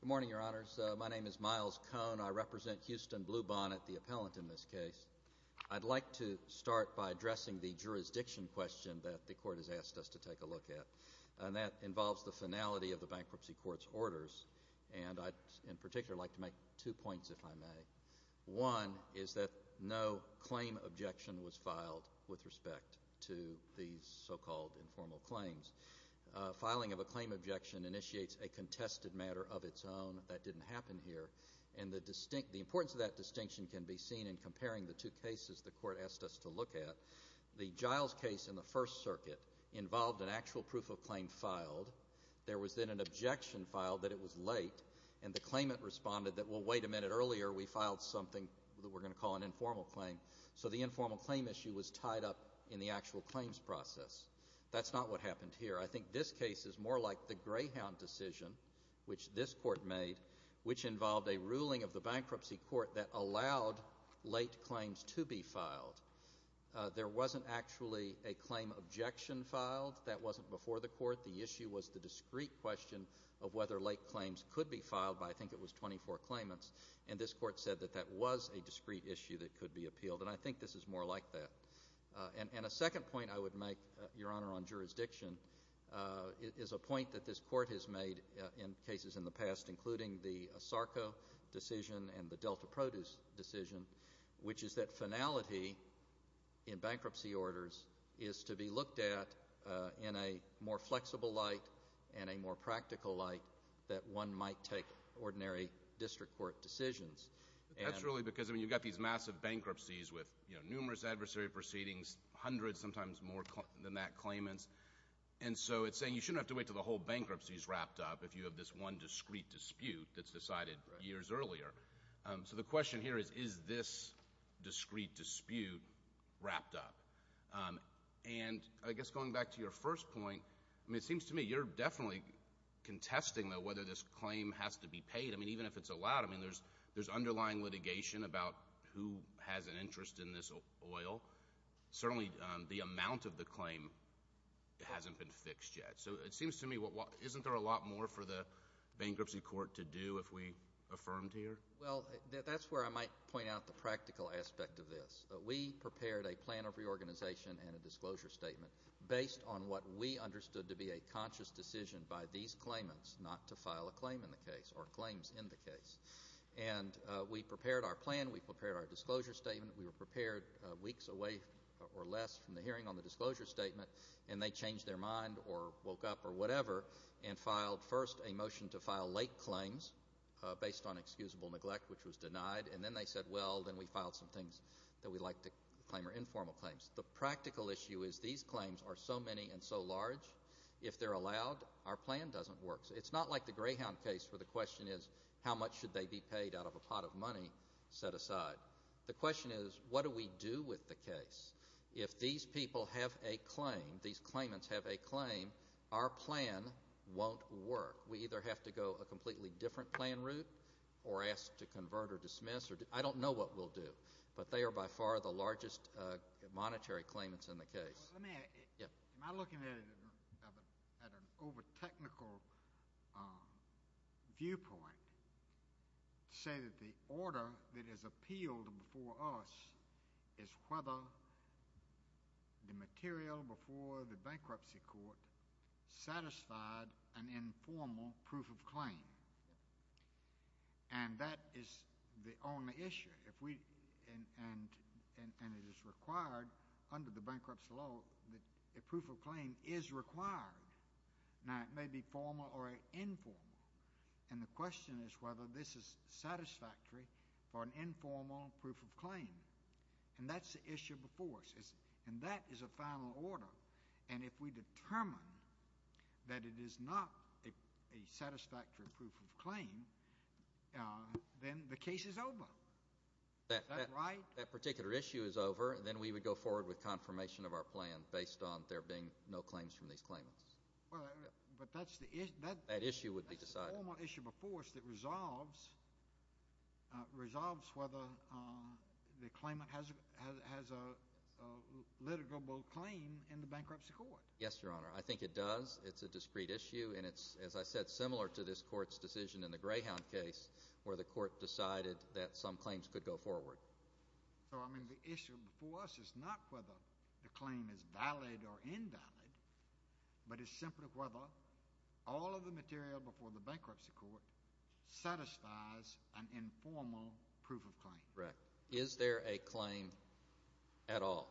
Good morning, Your Honors. My name is Miles Cohn. I represent Houston Bluebonnet, the appellant in this case. I'd like to start by addressing the jurisdiction question that the Court has asked us to take a look at, and that involves the finality of the Bankruptcy Court's orders. And I'd in particular like to make two points, if I may. One is that no claim objection was filed with respect to these so-called informal claims. Filing of a claim objection initiates a contested matter of its own. That didn't happen here. And the importance of that distinction can be seen in comparing the two cases the Court asked us to look at. The Giles case in the First Circuit involved an actual proof of claim filed. There was then an objection filed that it was late, and the claimant responded that, well, wait a minute, earlier we filed something that we're going to call an informal claim. So the informal claim issue was tied up in the actual claims process. That's not what happened here. I think this case is more like the Greyhound decision, which this Court made, which involved a ruling of the Bankruptcy Court that allowed late claims to be filed. There wasn't actually a claim objection filed. That wasn't before the Court. The issue was the discrete question of whether late claims could be filed by, I think it was, 24 claimants. And this Court said that that was a discrete issue that could be appealed, and I think this is more like that. And a second point I would make, Your Honor, on jurisdiction is a point that this Court has made in cases in the past, including the Sarko decision and the Delta Produce decision, which is that finality in bankruptcy orders is to be looked at in a more flexible light and a more practical light that one might take ordinary district court decisions. That's really because, I mean, you've got these massive bankruptcies with numerous adversary proceedings, hundreds, sometimes more than that, claimants. And so it's saying you shouldn't have to wait until the whole bankruptcy is wrapped up if you have this one discrete dispute that's decided years earlier. So the question here is, is this discrete dispute wrapped up? And I guess going back to your first point, I mean, it seems to me you're definitely contesting, though, whether this claim has to be paid. I mean, even if it's allowed, I mean, there's underlying litigation about who has an interest in this oil. Certainly the amount of the claim hasn't been fixed yet. So it seems to me, isn't there a lot more for the bankruptcy court to do if we affirmed here? Well, that's where I might point out the practical aspect of this. We prepared a plan of reorganization and a disclosure statement based on what we understood to be a conscious decision by these claimants not to file a claim in the case or claims in the case. And we prepared our plan. We prepared our disclosure statement. We were prepared weeks away or less from the hearing on the disclosure statement, and they changed their mind or woke up or whatever and filed first a motion to file late claims based on excusable neglect, which was denied. And then they said, well, then we filed some things that we like to claim are informal claims. The practical issue is these claims are so many and so large, if they're allowed, our plan doesn't work. It's not like the Greyhound case where the question is how much should they be paid out of a pot of money set aside. The question is what do we do with the case? If these people have a claim, these claimants have a claim, our plan won't work. We either have to go a completely different plan route or ask to convert or dismiss. I don't know what we'll do, but they are by far the largest monetary claimants in the case. Am I looking at an over-technical viewpoint to say that the order that is appealed before us is whether the material before the bankruptcy court satisfied an informal proof of claim? And that is the only issue. And it is required under the bankruptcy law that a proof of claim is required. Now, it may be formal or informal. And the question is whether this is satisfactory for an informal proof of claim. And that's the issue before us. And that is a final order. And if we determine that it is not a satisfactory proof of claim, then the case is over. That's right. That particular issue is over. Then we would go forward with confirmation of our plan based on there being no claims from these claimants. But that's the issue. That issue would be decided. that resolves whether the claimant has a litigable claim in the bankruptcy court. Yes, Your Honor. I think it does. It's a discrete issue. And it's, as I said, similar to this court's decision in the Greyhound case where the court decided that some claims could go forward. So, I mean, the issue before us is not whether the claim is valid or invalid, but it's simply whether all of the material before the bankruptcy court satisfies an informal proof of claim. Correct. Is there a claim at all?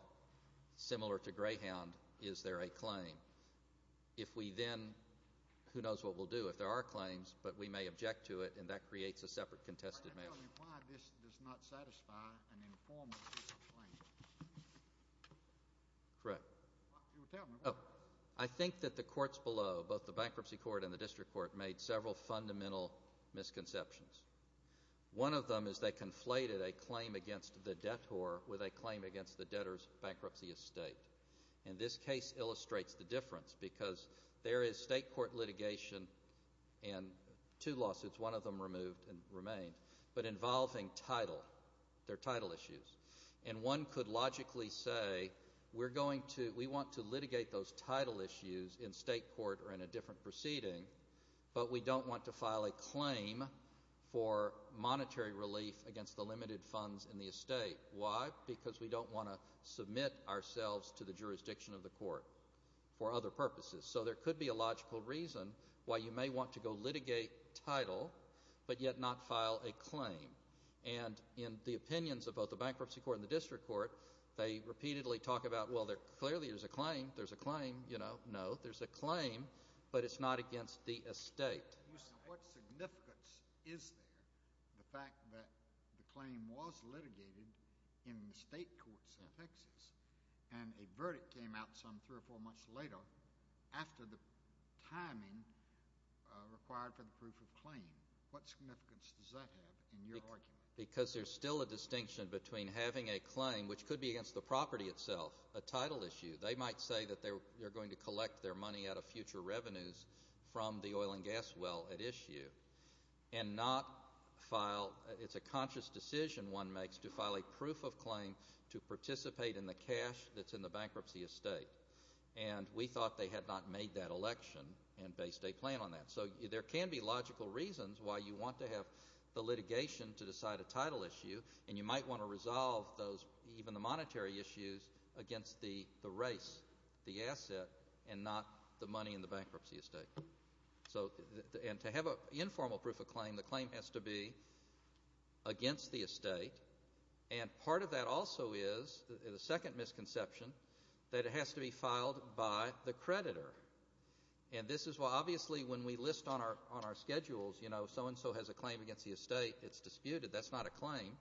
Similar to Greyhound, is there a claim? If we then, who knows what we'll do. If there are claims, but we may object to it, and that creates a separate contested measure. Can you tell me why this does not satisfy an informal proof of claim? Correct. I think that the courts below, both the bankruptcy court and the district court, made several fundamental misconceptions. One of them is they conflated a claim against the debtor with a claim against the debtor's bankruptcy estate. And this case illustrates the difference because there is state court litigation and two lawsuits, one of them removed and remained, but involving title, their title issues. And one could logically say we want to litigate those title issues in state court or in a different proceeding, but we don't want to file a claim for monetary relief against the limited funds in the estate. Why? Because we don't want to submit ourselves to the jurisdiction of the court for other purposes. So there could be a logical reason why you may want to go litigate title, but yet not file a claim. And in the opinions of both the bankruptcy court and the district court, they repeatedly talk about, well, clearly there's a claim, there's a claim, you know, no, there's a claim, but it's not against the estate. What significance is there, the fact that the claim was litigated in the state courts in Texas and a verdict came out some three or four months later after the timing required for the proof of claim? What significance does that have in your argument? Because there's still a distinction between having a claim, which could be against the property itself, a title issue. They might say that they're going to collect their money out of future revenues from the oil and gas well at issue and not file a conscious decision one makes to file a proof of claim to participate in the cash that's in the bankruptcy estate. And we thought they had not made that election and based a plan on that. So there can be logical reasons why you want to have the litigation to decide a title issue and you might want to resolve those, even the monetary issues, against the race, the asset, and not the money in the bankruptcy estate. And to have an informal proof of claim, the claim has to be against the estate. And part of that also is, the second misconception, that it has to be filed by the creditor. And this is why, obviously, when we list on our schedules, you know, so-and-so has a claim against the estate, it's disputed. That's not a claim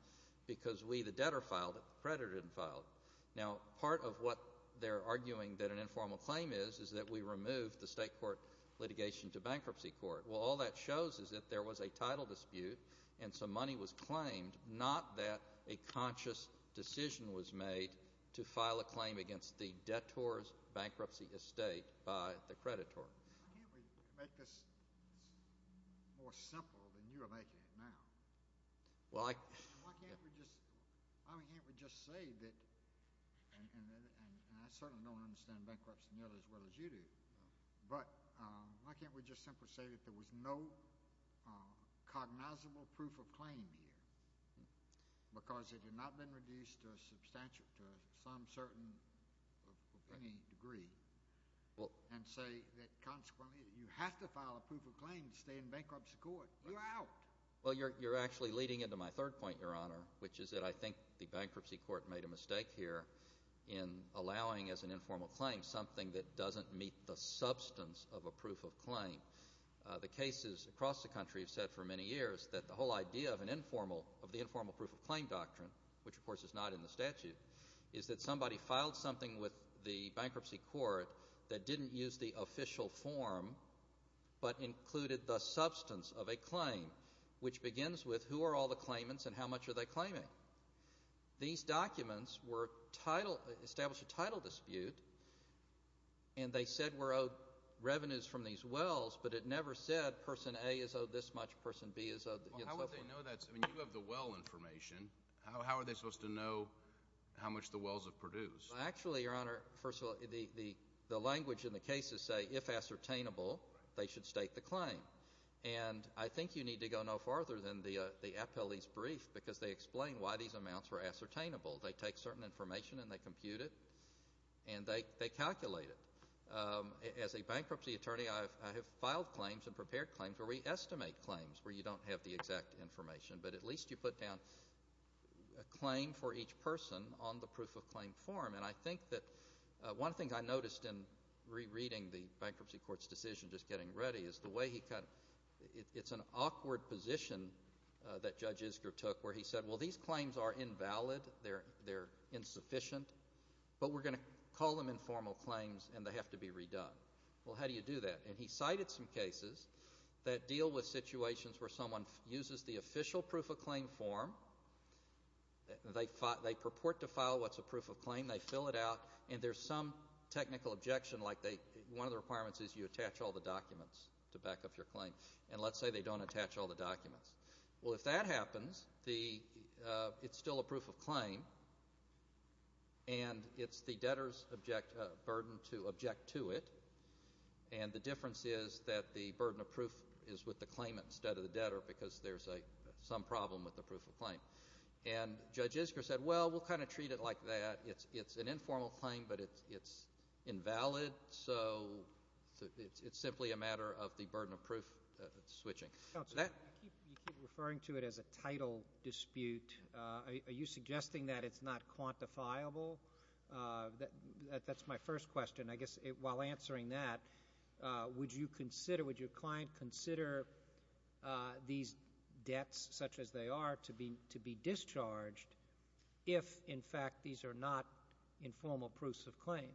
because we, the debtor, filed it, the creditor didn't file it. Now, part of what they're arguing that an informal claim is is that we removed the state court litigation to bankruptcy court. Well, all that shows is that there was a title dispute and some money was claimed, not that a conscious decision was made to file a claim against the debtor's bankruptcy estate by the creditor. Why can't we make this more simple than you are making it now? Why can't we just say that, and I certainly don't understand bankruptcy nearly as well as you do, but why can't we just simply say that there was no cognizable proof of claim here because it had not been reduced to some certain, to any degree, and say that consequently you have to file a proof of claim to stay in bankruptcy court? You're out. Well, you're actually leading into my third point, Your Honor, which is that I think the bankruptcy court made a mistake here in allowing, as an informal claim, something that doesn't meet the substance of a proof of claim. The cases across the country have said for many years that the whole idea of the informal proof of claim doctrine, which of course is not in the statute, is that somebody filed something with the bankruptcy court that didn't use the official form but included the substance of a claim, which begins with who are all the claimants and how much are they claiming? These documents were titled, established a title dispute, and they said we're owed revenues from these wells, but it never said person A is owed this much, person B is owed, and so forth. Well, how would they know that? I mean, you have the well information. How are they supposed to know how much the wells have produced? Well, actually, Your Honor, first of all, the language in the cases say if ascertainable, they should state the claim. And I think you need to go no farther than the appellee's brief because they explain why these amounts were ascertainable. They take certain information and they compute it, and they calculate it. As a bankruptcy attorney, I have filed claims and prepared claims where we estimate claims where you don't have the exact information, but at least you put down a claim for each person on the proof of claim form. And I think that one of the things I noticed in rereading the bankruptcy court's decision, just getting ready, is the way he kind of ‑‑ it's an awkward position that Judge Isgur took where he said, well, these claims are invalid, they're insufficient, but we're going to call them informal claims and they have to be redone. Well, how do you do that? And he cited some cases that deal with situations where someone uses the official proof of claim form, they purport to file what's a proof of claim, they fill it out, and there's some technical objection like one of the requirements is you attach all the documents to back up your claim, and let's say they don't attach all the documents. Well, if that happens, it's still a proof of claim, and it's the debtor's burden to object to it, and the difference is that the burden of proof is with the claimant instead of the debtor because there's some problem with the proof of claim. And Judge Isgur said, well, we'll kind of treat it like that. It's an informal claim, but it's invalid, so it's simply a matter of the burden of proof switching. Counsel, you keep referring to it as a title dispute. Are you suggesting that it's not quantifiable? That's my first question. I guess while answering that, would you consider, would your client consider these debts, such as they are, to be discharged if, in fact, these are not informal proofs of claim?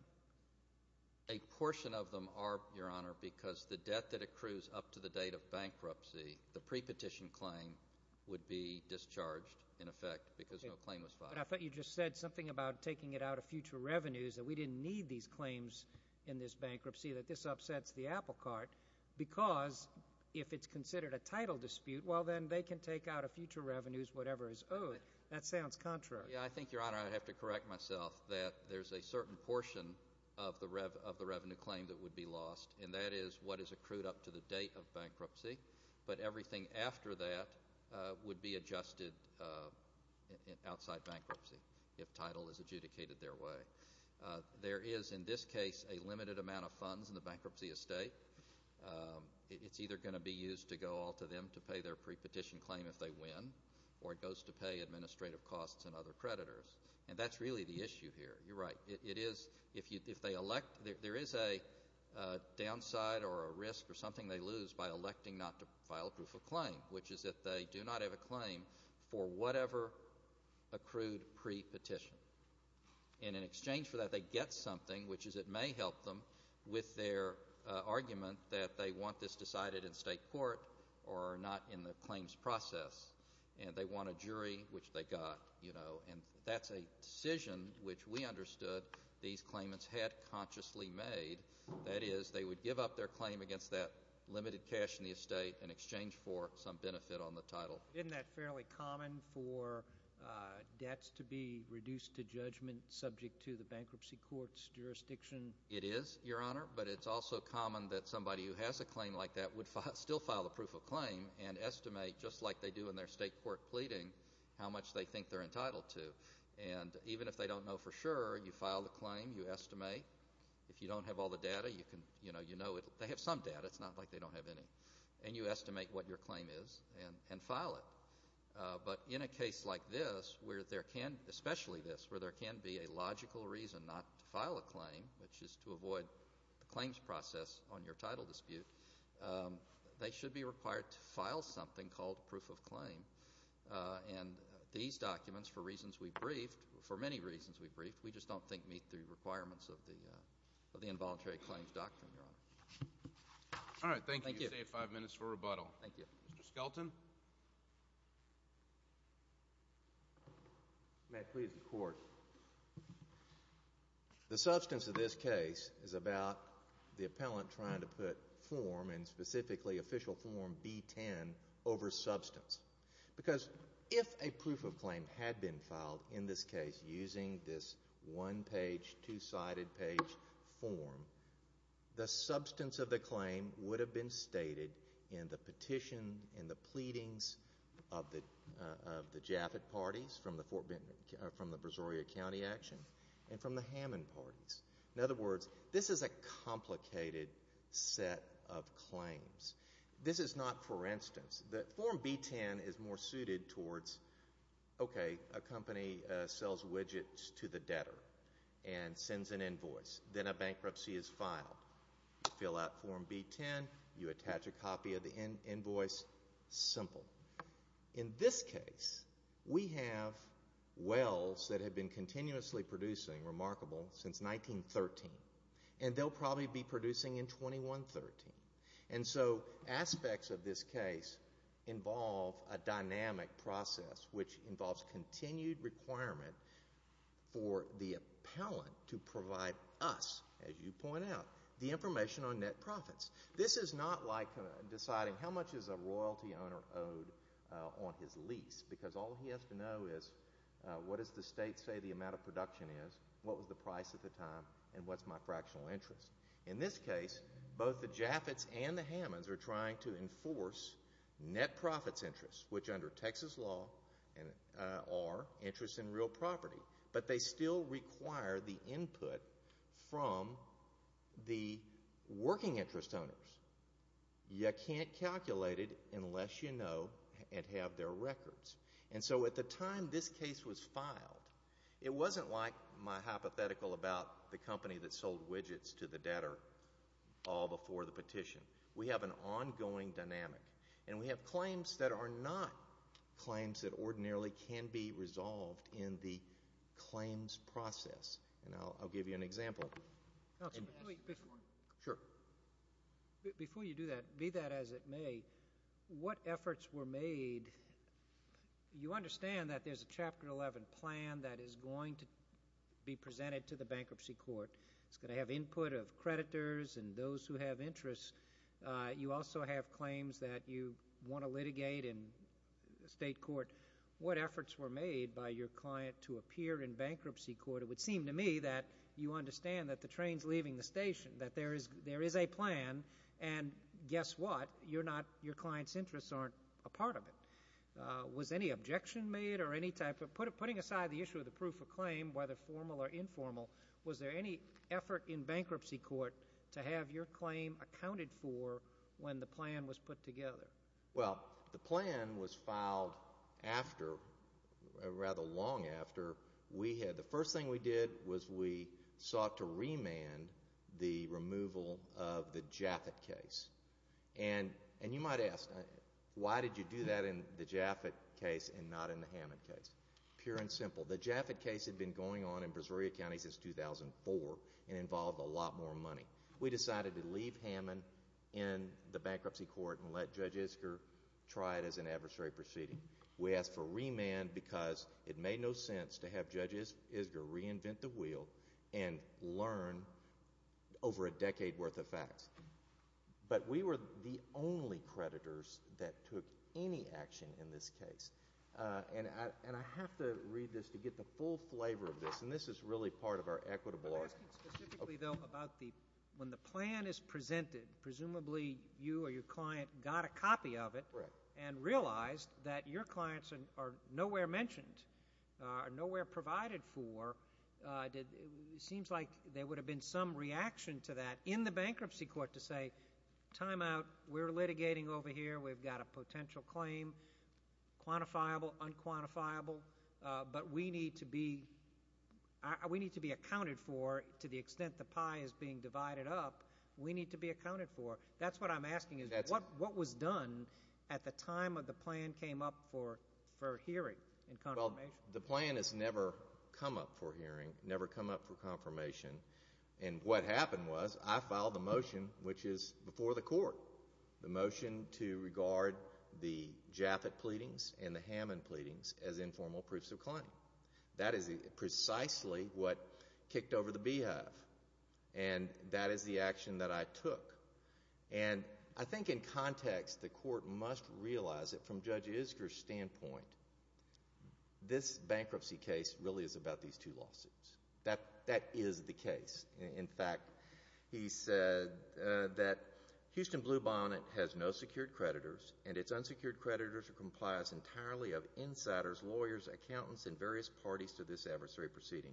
A portion of them are, Your Honor, because the debt that accrues up to the date of bankruptcy, the prepetition claim would be discharged in effect because no claim was filed. But I thought you just said something about taking it out of future revenues, that we didn't need these claims in this bankruptcy, that this upsets the apple cart, because if it's considered a title dispute, well, then they can take out of future revenues whatever is owed. That sounds contrary. Yeah, I think, Your Honor, I'd have to correct myself, that there's a certain portion of the revenue claim that would be lost, and that is what is accrued up to the date of bankruptcy. But everything after that would be adjusted outside bankruptcy if title is adjudicated their way. There is, in this case, a limited amount of funds in the bankruptcy estate. It's either going to be used to go all to them to pay their prepetition claim if they win, or it goes to pay administrative costs and other creditors. And that's really the issue here. You're right. It is, if they elect, there is a downside or a risk or something they lose by electing not to file proof of claim, which is if they do not have a claim for whatever accrued prepetition. And in exchange for that, they get something, which is it may help them with their argument that they want this decided in state court or not in the claims process, and they want a jury, which they got. And that's a decision which we understood these claimants had consciously made. That is, they would give up their claim against that limited cash in the estate in exchange for some benefit on the title. Isn't that fairly common for debts to be reduced to judgment subject to the bankruptcy court's jurisdiction? It is, Your Honor, but it's also common that somebody who has a claim like that would still file a proof of claim and estimate, just like they do in their state court pleading, how much they think they're entitled to. And even if they don't know for sure, you file the claim, you estimate. If you don't have all the data, you know they have some data. It's not like they don't have any. And you estimate what your claim is and file it. But in a case like this, especially this, where there can be a logical reason not to file a claim, which is to avoid the claims process on your title dispute, they should be required to file something called proof of claim. And these documents, for reasons we briefed, for many reasons we briefed, we just don't think meet the requirements of the involuntary claims doctrine, Your Honor. All right, thank you. You save five minutes for rebuttal. Thank you. Mr. Skelton. May it please the Court. The substance of this case is about the appellant trying to put form, and specifically official form B-10, over substance. Because if a proof of claim had been filed in this case using this one-page, two-sided page form, the substance of the claim would have been stated in the petition, in the pleadings of the Jaffa parties from the Brazoria County action and from the Hammond parties. In other words, this is a complicated set of claims. This is not, for instance, that form B-10 is more suited towards, okay, a company sells widgets to the debtor and sends an invoice. Then a bankruptcy is filed. You fill out form B-10. You attach a copy of the invoice. Simple. In this case, we have wells that have been continuously producing, remarkable, since 1913, and they'll probably be producing in 2113. And so aspects of this case involve a dynamic process, which involves continued requirement for the appellant to provide us, as you point out, the information on net profits. This is not like deciding how much is a royalty owner owed on his lease, because all he has to know is what does the state say the amount of production is, what was the price at the time, and what's my fractional interest. In this case, both the Jaffas and the Hammonds are trying to enforce net profits interests, which under Texas law are interests in real property, but they still require the input from the working interest owners. You can't calculate it unless you know and have their records. And so at the time this case was filed, it wasn't like my hypothetical about the company that sold widgets to the debtor all before the petition. We have an ongoing dynamic. And we have claims that are not claims that ordinarily can be resolved in the claims process. And I'll give you an example. Before you do that, be that as it may, what efforts were made? You understand that there's a Chapter 11 plan that is going to be presented to the bankruptcy court. It's going to have input of creditors and those who have interests. You also have claims that you want to litigate in state court. What efforts were made by your client to appear in bankruptcy court? It would seem to me that you understand that the train's leaving the station, that there is a plan. And guess what? Your client's interests aren't a part of it. Was any objection made or any type of? Putting aside the issue of the proof of claim, whether formal or informal, was there any effort in bankruptcy court to have your claim accounted for when the plan was put together? Well, the plan was filed after, rather long after, we had. The first thing we did was we sought to remand the removal of the Jaffet case. And you might ask, why did you do that in the Jaffet case and not in the Hammond case? Pure and simple. The Jaffet case had been going on in Brazoria County since 2004 and involved a lot more money. We decided to leave Hammond in the bankruptcy court and let Judge Isger try it as an adversary proceeding. We asked for remand because it made no sense to have Judge Isger reinvent the wheel and learn over a decade worth of facts. But we were the only creditors that took any action in this case. And I have to read this to get the full flavor of this, and this is really part of our equitable argument. I'm asking specifically, though, about when the plan is presented, presumably you or your client got a copy of it and realized that your clients are nowhere mentioned, are nowhere provided for, it seems like there would have been some reaction to that in the bankruptcy court to say, time out, we're litigating over here, we've got a potential claim, quantifiable, unquantifiable, but we need to be accounted for to the extent the pie is being divided up. We need to be accounted for. That's what I'm asking is, what was done at the time of the plan came up for hearing and confirmation? Well, the plan has never come up for hearing, never come up for confirmation. And what happened was I filed a motion which is before the court, the motion to regard the Jaffa pleadings and the Hammond pleadings as informal proofs of claim. That is precisely what kicked over the beehive, and that is the action that I took. And I think in context the court must realize that from Judge Isger's standpoint, this bankruptcy case really is about these two lawsuits. That is the case. In fact, he said that Houston Blue Bonnet has no secured creditors, and its unsecured creditors are complies entirely of insiders, lawyers, accountants, and various parties to this adversary proceeding.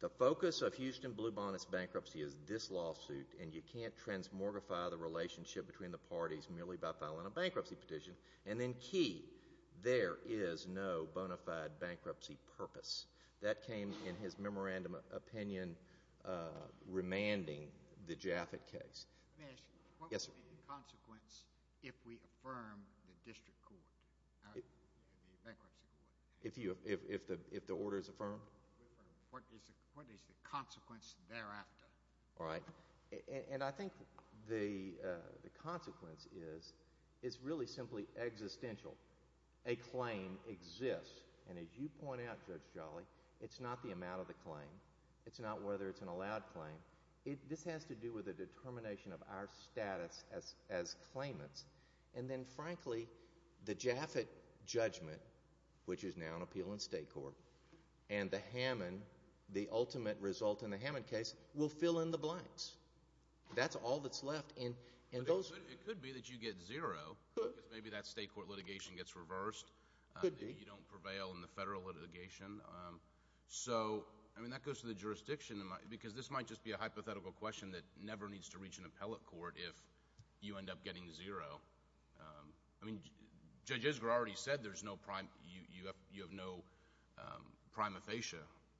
The focus of Houston Blue Bonnet's bankruptcy is this lawsuit, and you can't transmortify the relationship between the parties merely by filing a bankruptcy petition. And then key, there is no bona fide bankruptcy purpose. That came in his memorandum opinion remanding the Jaffa case. May I ask you what would be the consequence if we affirm the district court, the bankruptcy court? If the order is affirmed? What is the consequence thereafter? All right. And I think the consequence is it's really simply existential. A claim exists. And as you point out, Judge Jolly, it's not the amount of the claim. It's not whether it's an allowed claim. This has to do with the determination of our status as claimants. And then, frankly, the Jaffa judgment, which is now an appeal in state court, and the Hammond, the ultimate result in the Hammond case, will fill in the blanks. That's all that's left. It could be that you get zero because maybe that state court litigation gets reversed. It could be. Maybe you don't prevail in the federal litigation. So, I mean, that goes to the jurisdiction, because this might just be a hypothetical question that never needs to reach an appellate court if you end up getting zero. I mean, Judge Isgra already said you have no prima facie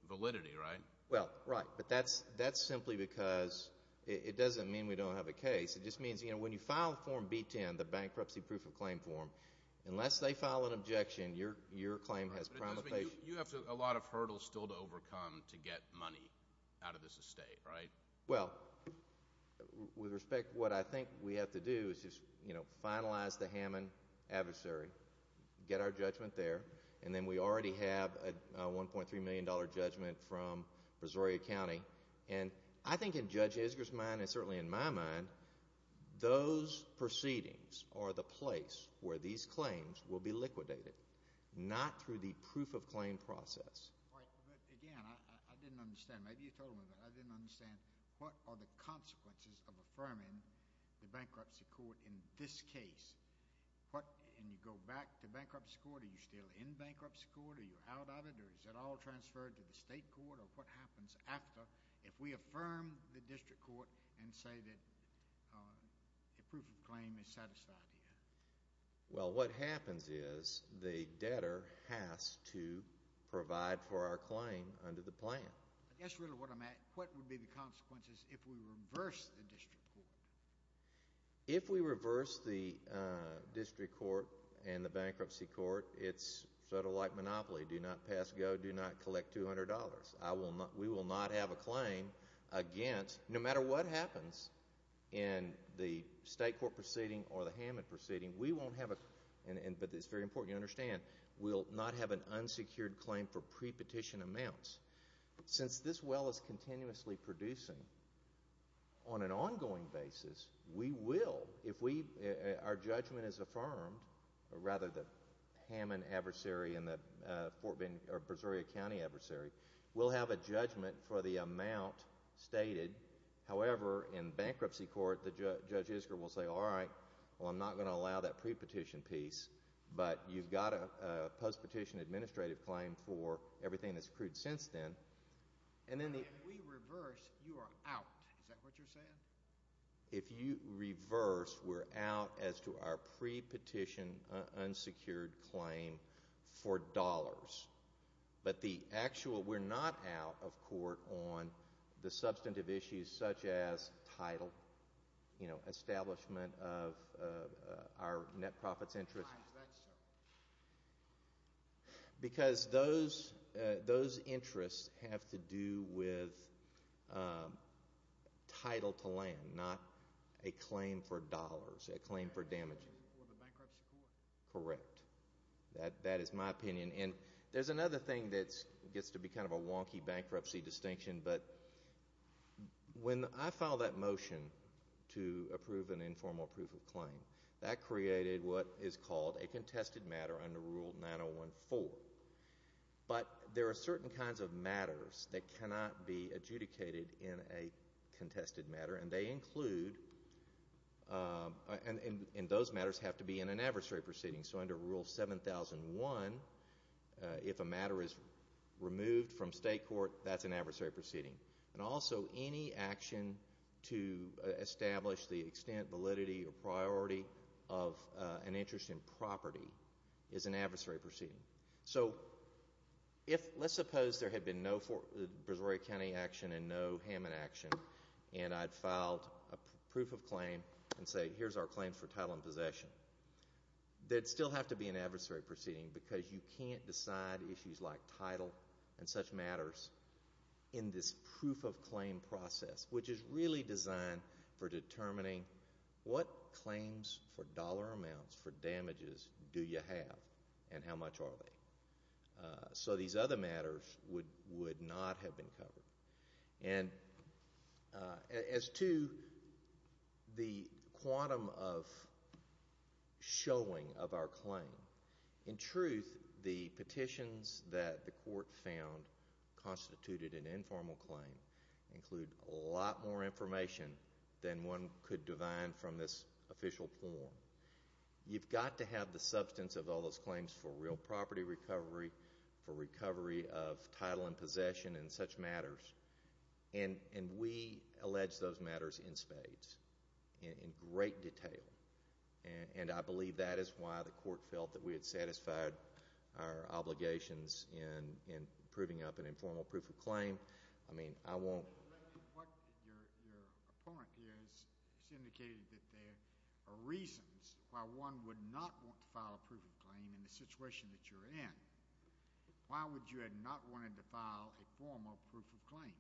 validity, right? Well, right. But that's simply because it doesn't mean we don't have a case. It just means, you know, when you file Form B-10, the bankruptcy proof of claim form, unless they file an objection, your claim has prima facie. You have a lot of hurdles still to overcome to get money out of this estate, right? Well, with respect to what I think we have to do is just, you know, finalize the Hammond adversary, get our judgment there, and then we already have a $1.3 million judgment from Brazoria County. And I think in Judge Isgra's mind and certainly in my mind, those proceedings are the place where these claims will be liquidated, not through the proof of claim process. Right. But, again, I didn't understand. Maybe you told me, but I didn't understand. What are the consequences of affirming the bankruptcy court in this case? And you go back to bankruptcy court. Are you still in bankruptcy court? Are you out of it? Or is it all transferred to the state court? Or what happens after, if we affirm the district court and say that a proof of claim is satisfied here? Well, what happens is the debtor has to provide for our claim under the plan. That's really what I'm asking. What would be the consequences if we reverse the district court? If we reverse the district court and the bankruptcy court, it's federal-like monopoly. Do not pass go. Do not collect $200. We will not have a claim against, no matter what happens in the state court proceeding or the Hammond proceeding, we won't have a, but it's very important you understand, we'll not have an unsecured claim for prepetition amounts. Since this well is continuously producing, on an ongoing basis, we will, if our judgment is affirmed, or rather the Hammond adversary and the Fort Bend or Berzeria County adversary, we'll have a judgment for the amount stated. However, in bankruptcy court, the Judge Isger will say, all right, well, I'm not going to allow that prepetition piece, but you've got a postpetition administrative claim for everything that's accrued since then. If we reverse, you are out. Is that what you're saying? If you reverse, we're out as to our prepetition unsecured claim for dollars. But the actual, we're not out of court on the substantive issues such as title, you know, establishment of our net profits interest. Why is that so? Because those interests have to do with title to land, not a claim for dollars, a claim for damages. For the bankruptcy court. Correct. That is my opinion. And there's another thing that gets to be kind of a wonky bankruptcy distinction, but when I filed that motion to approve an informal proof of claim, that created what is called a contested matter under Rule 9014. But there are certain kinds of matters that cannot be adjudicated in a contested matter, and they include, and those matters have to be in an adversary proceeding. So under Rule 7001, if a matter is removed from state court, that's an adversary proceeding. And also any action to establish the extent, validity, or priority of an interest in property is an adversary proceeding. So let's suppose there had been no Brazoria County action and no Hammond action, and I'd filed a proof of claim and say, here's our claim for title and possession. That would still have to be an adversary proceeding because you can't decide issues like title and such matters in this proof of claim process, which is really designed for determining what claims for dollar amounts for damages do you have and how much are they. So these other matters would not have been covered. And as to the quantum of showing of our claim, in truth, the petitions that the court found constituted an informal claim include a lot more information than one could divine from this official form. You've got to have the substance of all those claims for real property recovery, for recovery of title and possession, and such matters. And we allege those matters in spades, in great detail. And I believe that is why the court felt that we had satisfied our obligations in proving up an informal proof of claim. I mean, I won't. What your point is, it's indicated that there are reasons why one would not want to file a proof of claim in the situation that you're in. Why would you not want to file a formal proof of claim?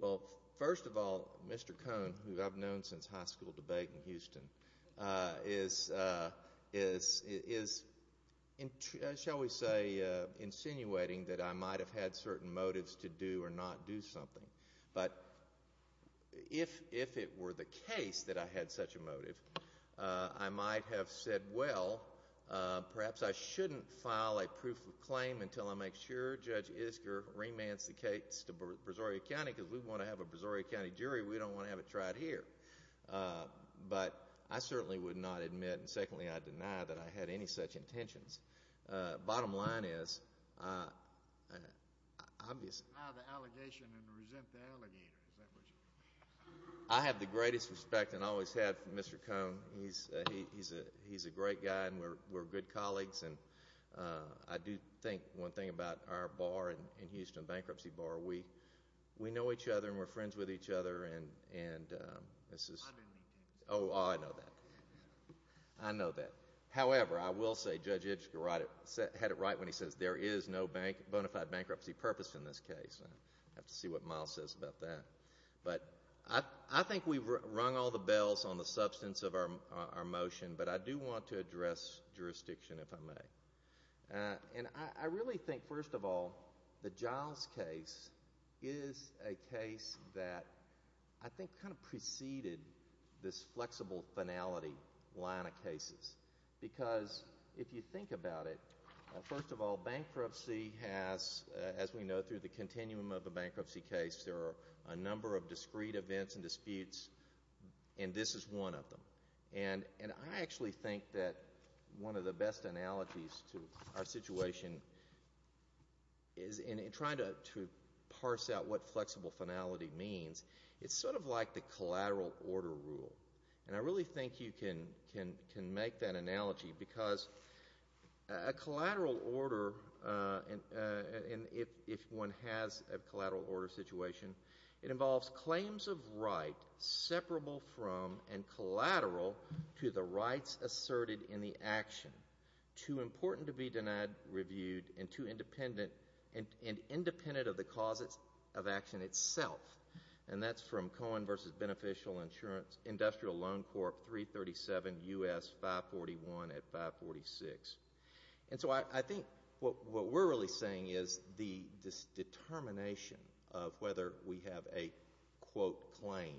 Well, first of all, Mr. Cohn, who I've known since high school debate in Houston, is, shall we say, insinuating that I might have had certain motives to do or not do something. But if it were the case that I had such a motive, I might have said, well, perhaps I shouldn't file a proof of claim until I make sure Judge Isker remands the case to Brazoria County because we want to have a Brazoria County jury. We don't want to have it tried here. But I certainly would not admit and, secondly, I deny that I had any such intentions. Bottom line is, obviously— Deny the allegation and resent the allegator. I have the greatest respect and always have for Mr. Cohn. He's a great guy, and we're good colleagues. And I do think one thing about our bar in Houston, the bankruptcy bar, we know each other and we're friends with each other, and this is— I know that. I know that. However, I will say Judge Isker had it right when he says there is no bona fide bankruptcy purpose in this case. I'll have to see what Miles says about that. But I think we've rung all the bells on the substance of our motion, but I do want to address jurisdiction, if I may. And I really think, first of all, the Giles case is a case that I think kind of preceded this flexible finality line of cases because if you think about it, first of all, bankruptcy has, as we know, through the continuum of the bankruptcy case, there are a number of discrete events and disputes, and this is one of them. And I actually think that one of the best analogies to our situation is, in trying to parse out what flexible finality means, it's sort of like the collateral order rule. And I really think you can make that analogy because a collateral order, if one has a collateral order situation, it involves claims of right separable from and collateral to the rights asserted in the action, too important to be denied, reviewed, and too independent of the cause of action itself. And that's from Cohen v. Beneficial Insurance Industrial Loan Corp. 337 U.S. 541 at 546. And so I think what we're really saying is this determination of whether we have a quote claim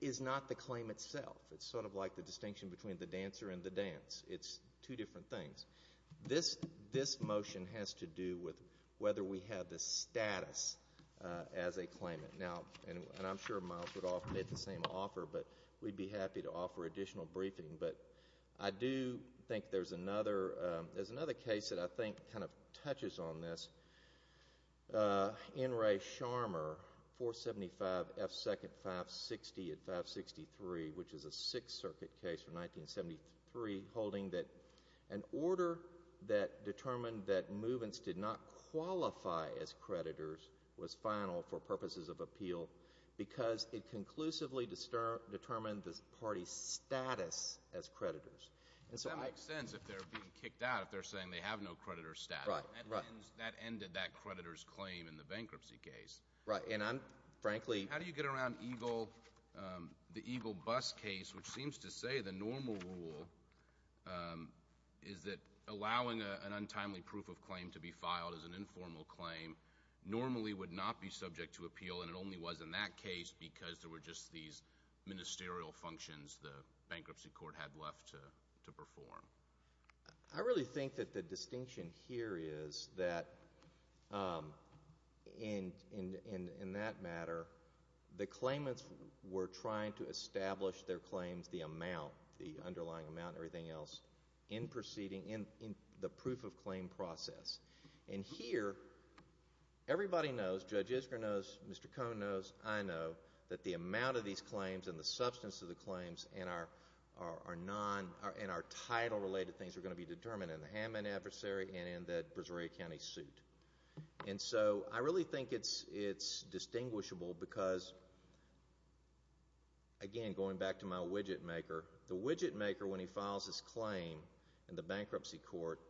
is not the claim itself. It's sort of like the distinction between the dancer and the dance. It's two different things. This motion has to do with whether we have the status as a claimant. Now, and I'm sure Miles would offer the same offer, but we'd be happy to offer additional briefing. But I do think there's another case that I think kind of touches on this. N. Ray Sharmer, 475 F. Second 560 at 563, which is a Sixth Circuit case from 1973, holding that an order that determined that movements did not qualify as creditors was final for purposes of appeal because it conclusively determined the party's status as creditors. That makes sense if they're being kicked out if they're saying they have no creditor status. That ended that creditor's claim in the bankruptcy case. Right. And I'm frankly— How do you get around EGLE, the EGLE bus case, which seems to say the normal rule is that allowing an untimely proof of claim to be filed as an informal claim normally would not be subject to appeal, and it only was in that case because there were just these ministerial functions the bankruptcy court had left to perform? I really think that the distinction here is that, in that matter, the claimants were trying to establish their claims, the amount, the underlying amount, everything else, in the proof of claim process. And here, everybody knows, Judge Isgra knows, Mr. Cohn knows, I know, that the amount of these claims and the substance of the claims and our title-related things are going to be determined in the Hammond adversary and in the Brazoria County suit. And so I really think it's distinguishable because, again, going back to my widget maker, the widget maker, when he files his claim in the bankruptcy court,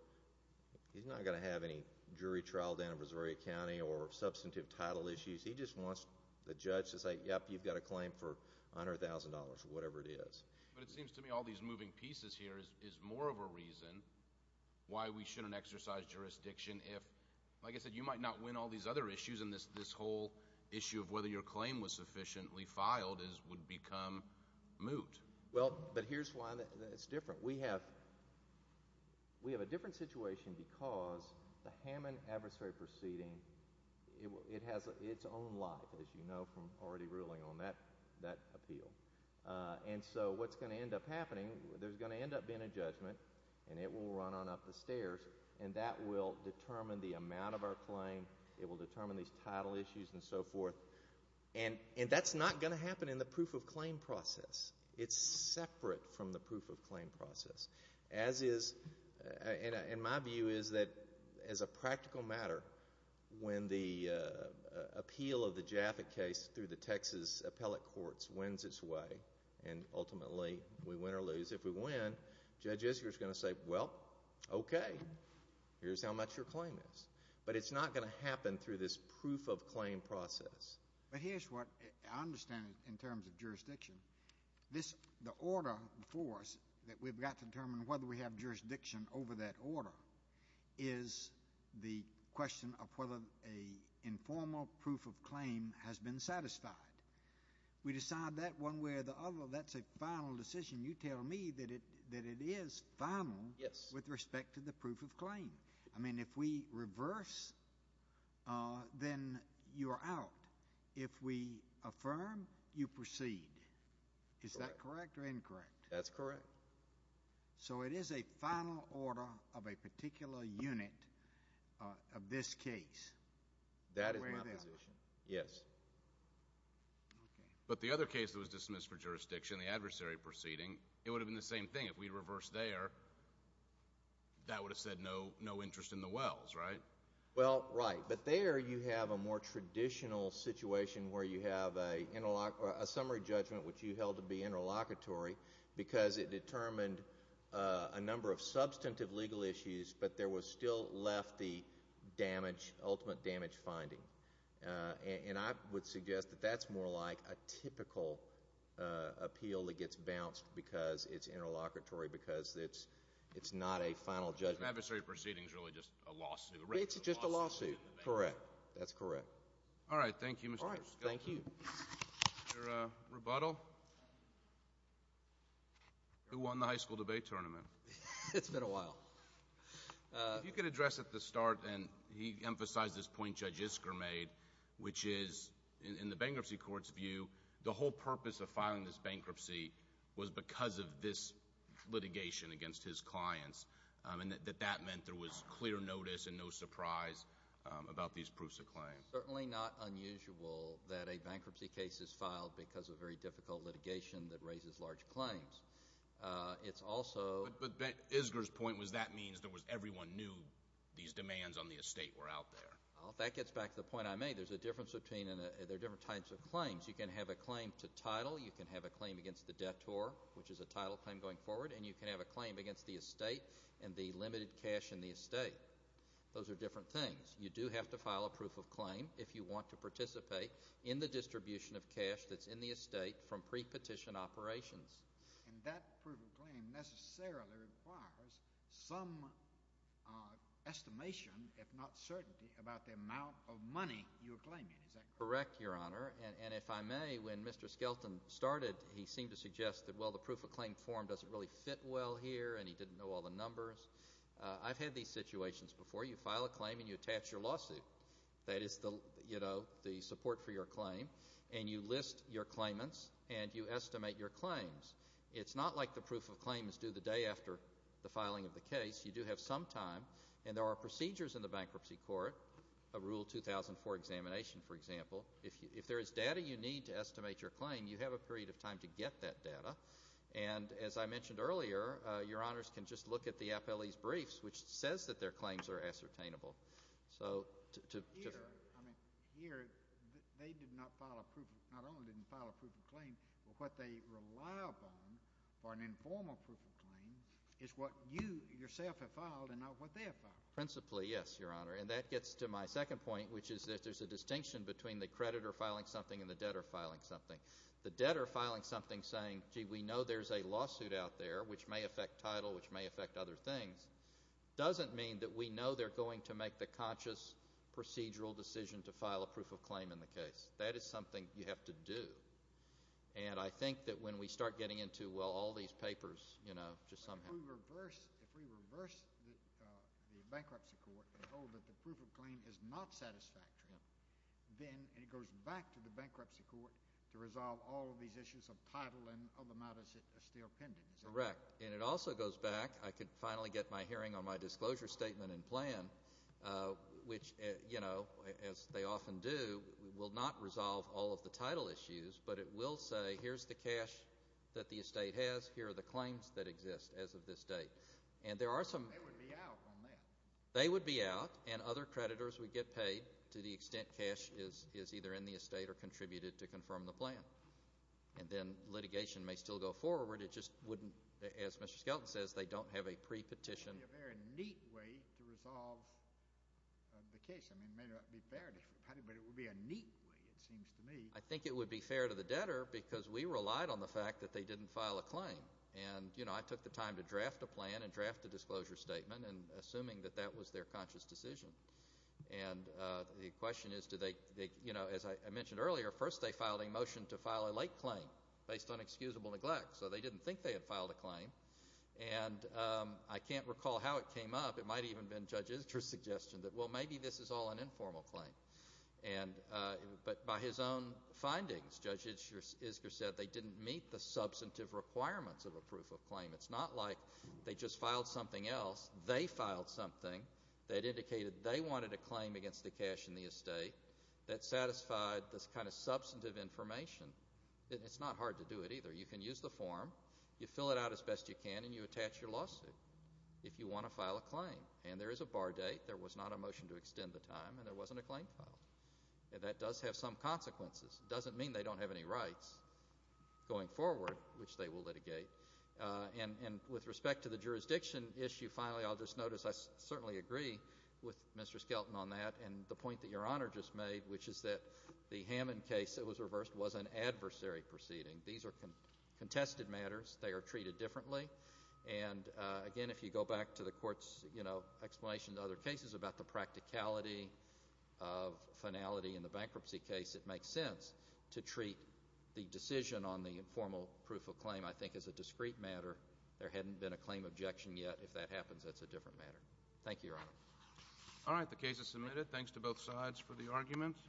he's not going to have any jury trial down in Brazoria County or substantive title issues. He just wants the judge to say, yep, you've got a claim for $100,000 or whatever it is. But it seems to me all these moving pieces here is more of a reason why we shouldn't exercise jurisdiction if, like I said, you might not win all these other issues, and this whole issue of whether your claim was sufficiently filed would become moot. Well, but here's why it's different. We have a different situation because the Hammond adversary proceeding, it has its own life, as you know from already ruling on that appeal. And so what's going to end up happening, there's going to end up being a judgment, and it will run on up the stairs, and that will determine the amount of our claim. It will determine these title issues and so forth. And that's not going to happen in the proof-of-claim process. It's separate from the proof-of-claim process. As is, and my view is that as a practical matter, when the appeal of the Jaffa case through the Texas appellate courts wins its way, and ultimately we win or lose, if we win, Judge Isker is going to say, well, okay, here's how much your claim is. But it's not going to happen through this proof-of-claim process. But here's what I understand in terms of jurisdiction. The order for us, that we've got to determine whether we have jurisdiction over that order, is the question of whether an informal proof-of-claim has been satisfied. We decide that one way or the other, that's a final decision. You tell me that it is final with respect to the proof-of-claim. I mean, if we reverse, then you are out. If we affirm, you proceed. Is that correct or incorrect? That's correct. So it is a final order of a particular unit of this case. That is my position, yes. But the other case that was dismissed for jurisdiction, the adversary proceeding, it would have been the same thing. If we reverse there, that would have said no interest in the wells, right? Well, right. But there you have a more traditional situation where you have a summary judgment, which you held to be interlocutory because it determined a number of substantive legal issues, but there was still left the damage, ultimate damage finding. And I would suggest that that's more like a typical appeal that gets bounced because it's interlocutory, because it's not a final judgment. The adversary proceeding is really just a lawsuit. It's just a lawsuit. Correct. That's correct. All right. Thank you, Mr. Scott. All right. Thank you. Your rebuttal? Who won the high school debate tournament? It's been a while. If you could address at the start, and he emphasized this point Judge Isger made, which is in the bankruptcy court's view the whole purpose of filing this bankruptcy was because of this litigation against his clients and that that meant there was clear notice and no surprise about these proofs of claims. It's certainly not unusual that a bankruptcy case is filed because of very difficult litigation that raises large claims. It's also – But Isger's point was that means that everyone knew these demands on the estate were out there. That gets back to the point I made. There's a difference between – there are different types of claims. You can have a claim to title. You can have a claim against the debtor, which is a title claim going forward, and you can have a claim against the estate and the limited cash in the estate. Those are different things. You do have to file a proof of claim if you want to participate in the distribution of cash that's in the estate from pre-petition operations. And that proof of claim necessarily requires some estimation, if not certainty, about the amount of money you are claiming. Is that correct? Correct, Your Honor. And if I may, when Mr. Skelton started, he seemed to suggest that, well, the proof of claim form doesn't really fit well here, and he didn't know all the numbers. I've had these situations before. You file a claim and you attach your lawsuit. That is the support for your claim. And you list your claimants and you estimate your claims. It's not like the proof of claim is due the day after the filing of the case. You do have some time, and there are procedures in the bankruptcy court, a Rule 2004 examination, for example. If there is data you need to estimate your claim, you have a period of time to get that data. And as I mentioned earlier, Your Honors can just look at the appellee's briefs, which says that their claims are ascertainable. Here, they did not file a proof of claim. Not only didn't they file a proof of claim, but what they rely upon for an informal proof of claim is what you yourself have filed and not what they have filed. Principally, yes, Your Honor. And that gets to my second point, which is that there's a distinction between the creditor filing something and the debtor filing something. The debtor filing something saying, gee, we know there's a lawsuit out there which may affect title, which may affect other things, doesn't mean that we know they're going to make the conscious procedural decision to file a proof of claim in the case. That is something you have to do. And I think that when we start getting into, well, all these papers, you know, just somehow. If we reverse the bankruptcy court and hold that the proof of claim is not satisfactory, then it goes back to the bankruptcy court to resolve all of these issues of title and other matters that are still pending. Correct. And it also goes back. I could finally get my hearing on my disclosure statement and plan, which, you know, as they often do, will not resolve all of the title issues, but it will say here's the cash that the estate has, here are the claims that exist as of this date. And there are some. They would be out on that. They would be out, and other creditors would get paid to the extent cash is either in the estate or contributed to confirm the plan. And then litigation may still go forward. It just wouldn't, as Mr. Skelton says, they don't have a pre-petition. It would be a very neat way to resolve the case. I mean, it may not be fair to everybody, but it would be a neat way, it seems to me. I think it would be fair to the debtor because we relied on the fact that they didn't file a claim. And, you know, I took the time to draft a plan and draft a disclosure statement and assuming that that was their conscious decision. And the question is, you know, as I mentioned earlier, first they filed a motion to file a late claim based on excusable neglect. So they didn't think they had filed a claim. And I can't recall how it came up. It might have even been Judge Isger's suggestion that, well, maybe this is all an informal claim. But by his own findings, Judge Isger said they didn't meet the substantive requirements of a proof of claim. It's not like they just filed something else. They filed something that indicated they wanted a claim against the cash in the estate that satisfied this kind of substantive information. It's not hard to do it either. You can use the form. You fill it out as best you can, and you attach your lawsuit if you want to file a claim. And there is a bar date. There was not a motion to extend the time, and there wasn't a claim filed. That does have some consequences. It doesn't mean they don't have any rights going forward, which they will litigate. And with respect to the jurisdiction issue, finally, I'll just notice I certainly agree with Mr. Skelton on that. And the point that Your Honor just made, which is that the Hammond case that was reversed was an adversary proceeding. These are contested matters. They are treated differently. And, again, if you go back to the Court's explanation in other cases about the practicality of finality in the bankruptcy case, it makes sense to treat the decision on the informal proof of claim, I think, as a discrete matter. There hadn't been a claim objection yet. If that happens, that's a different matter. Thank you, Your Honor. All right, the case is submitted. Thanks to both sides for the arguments.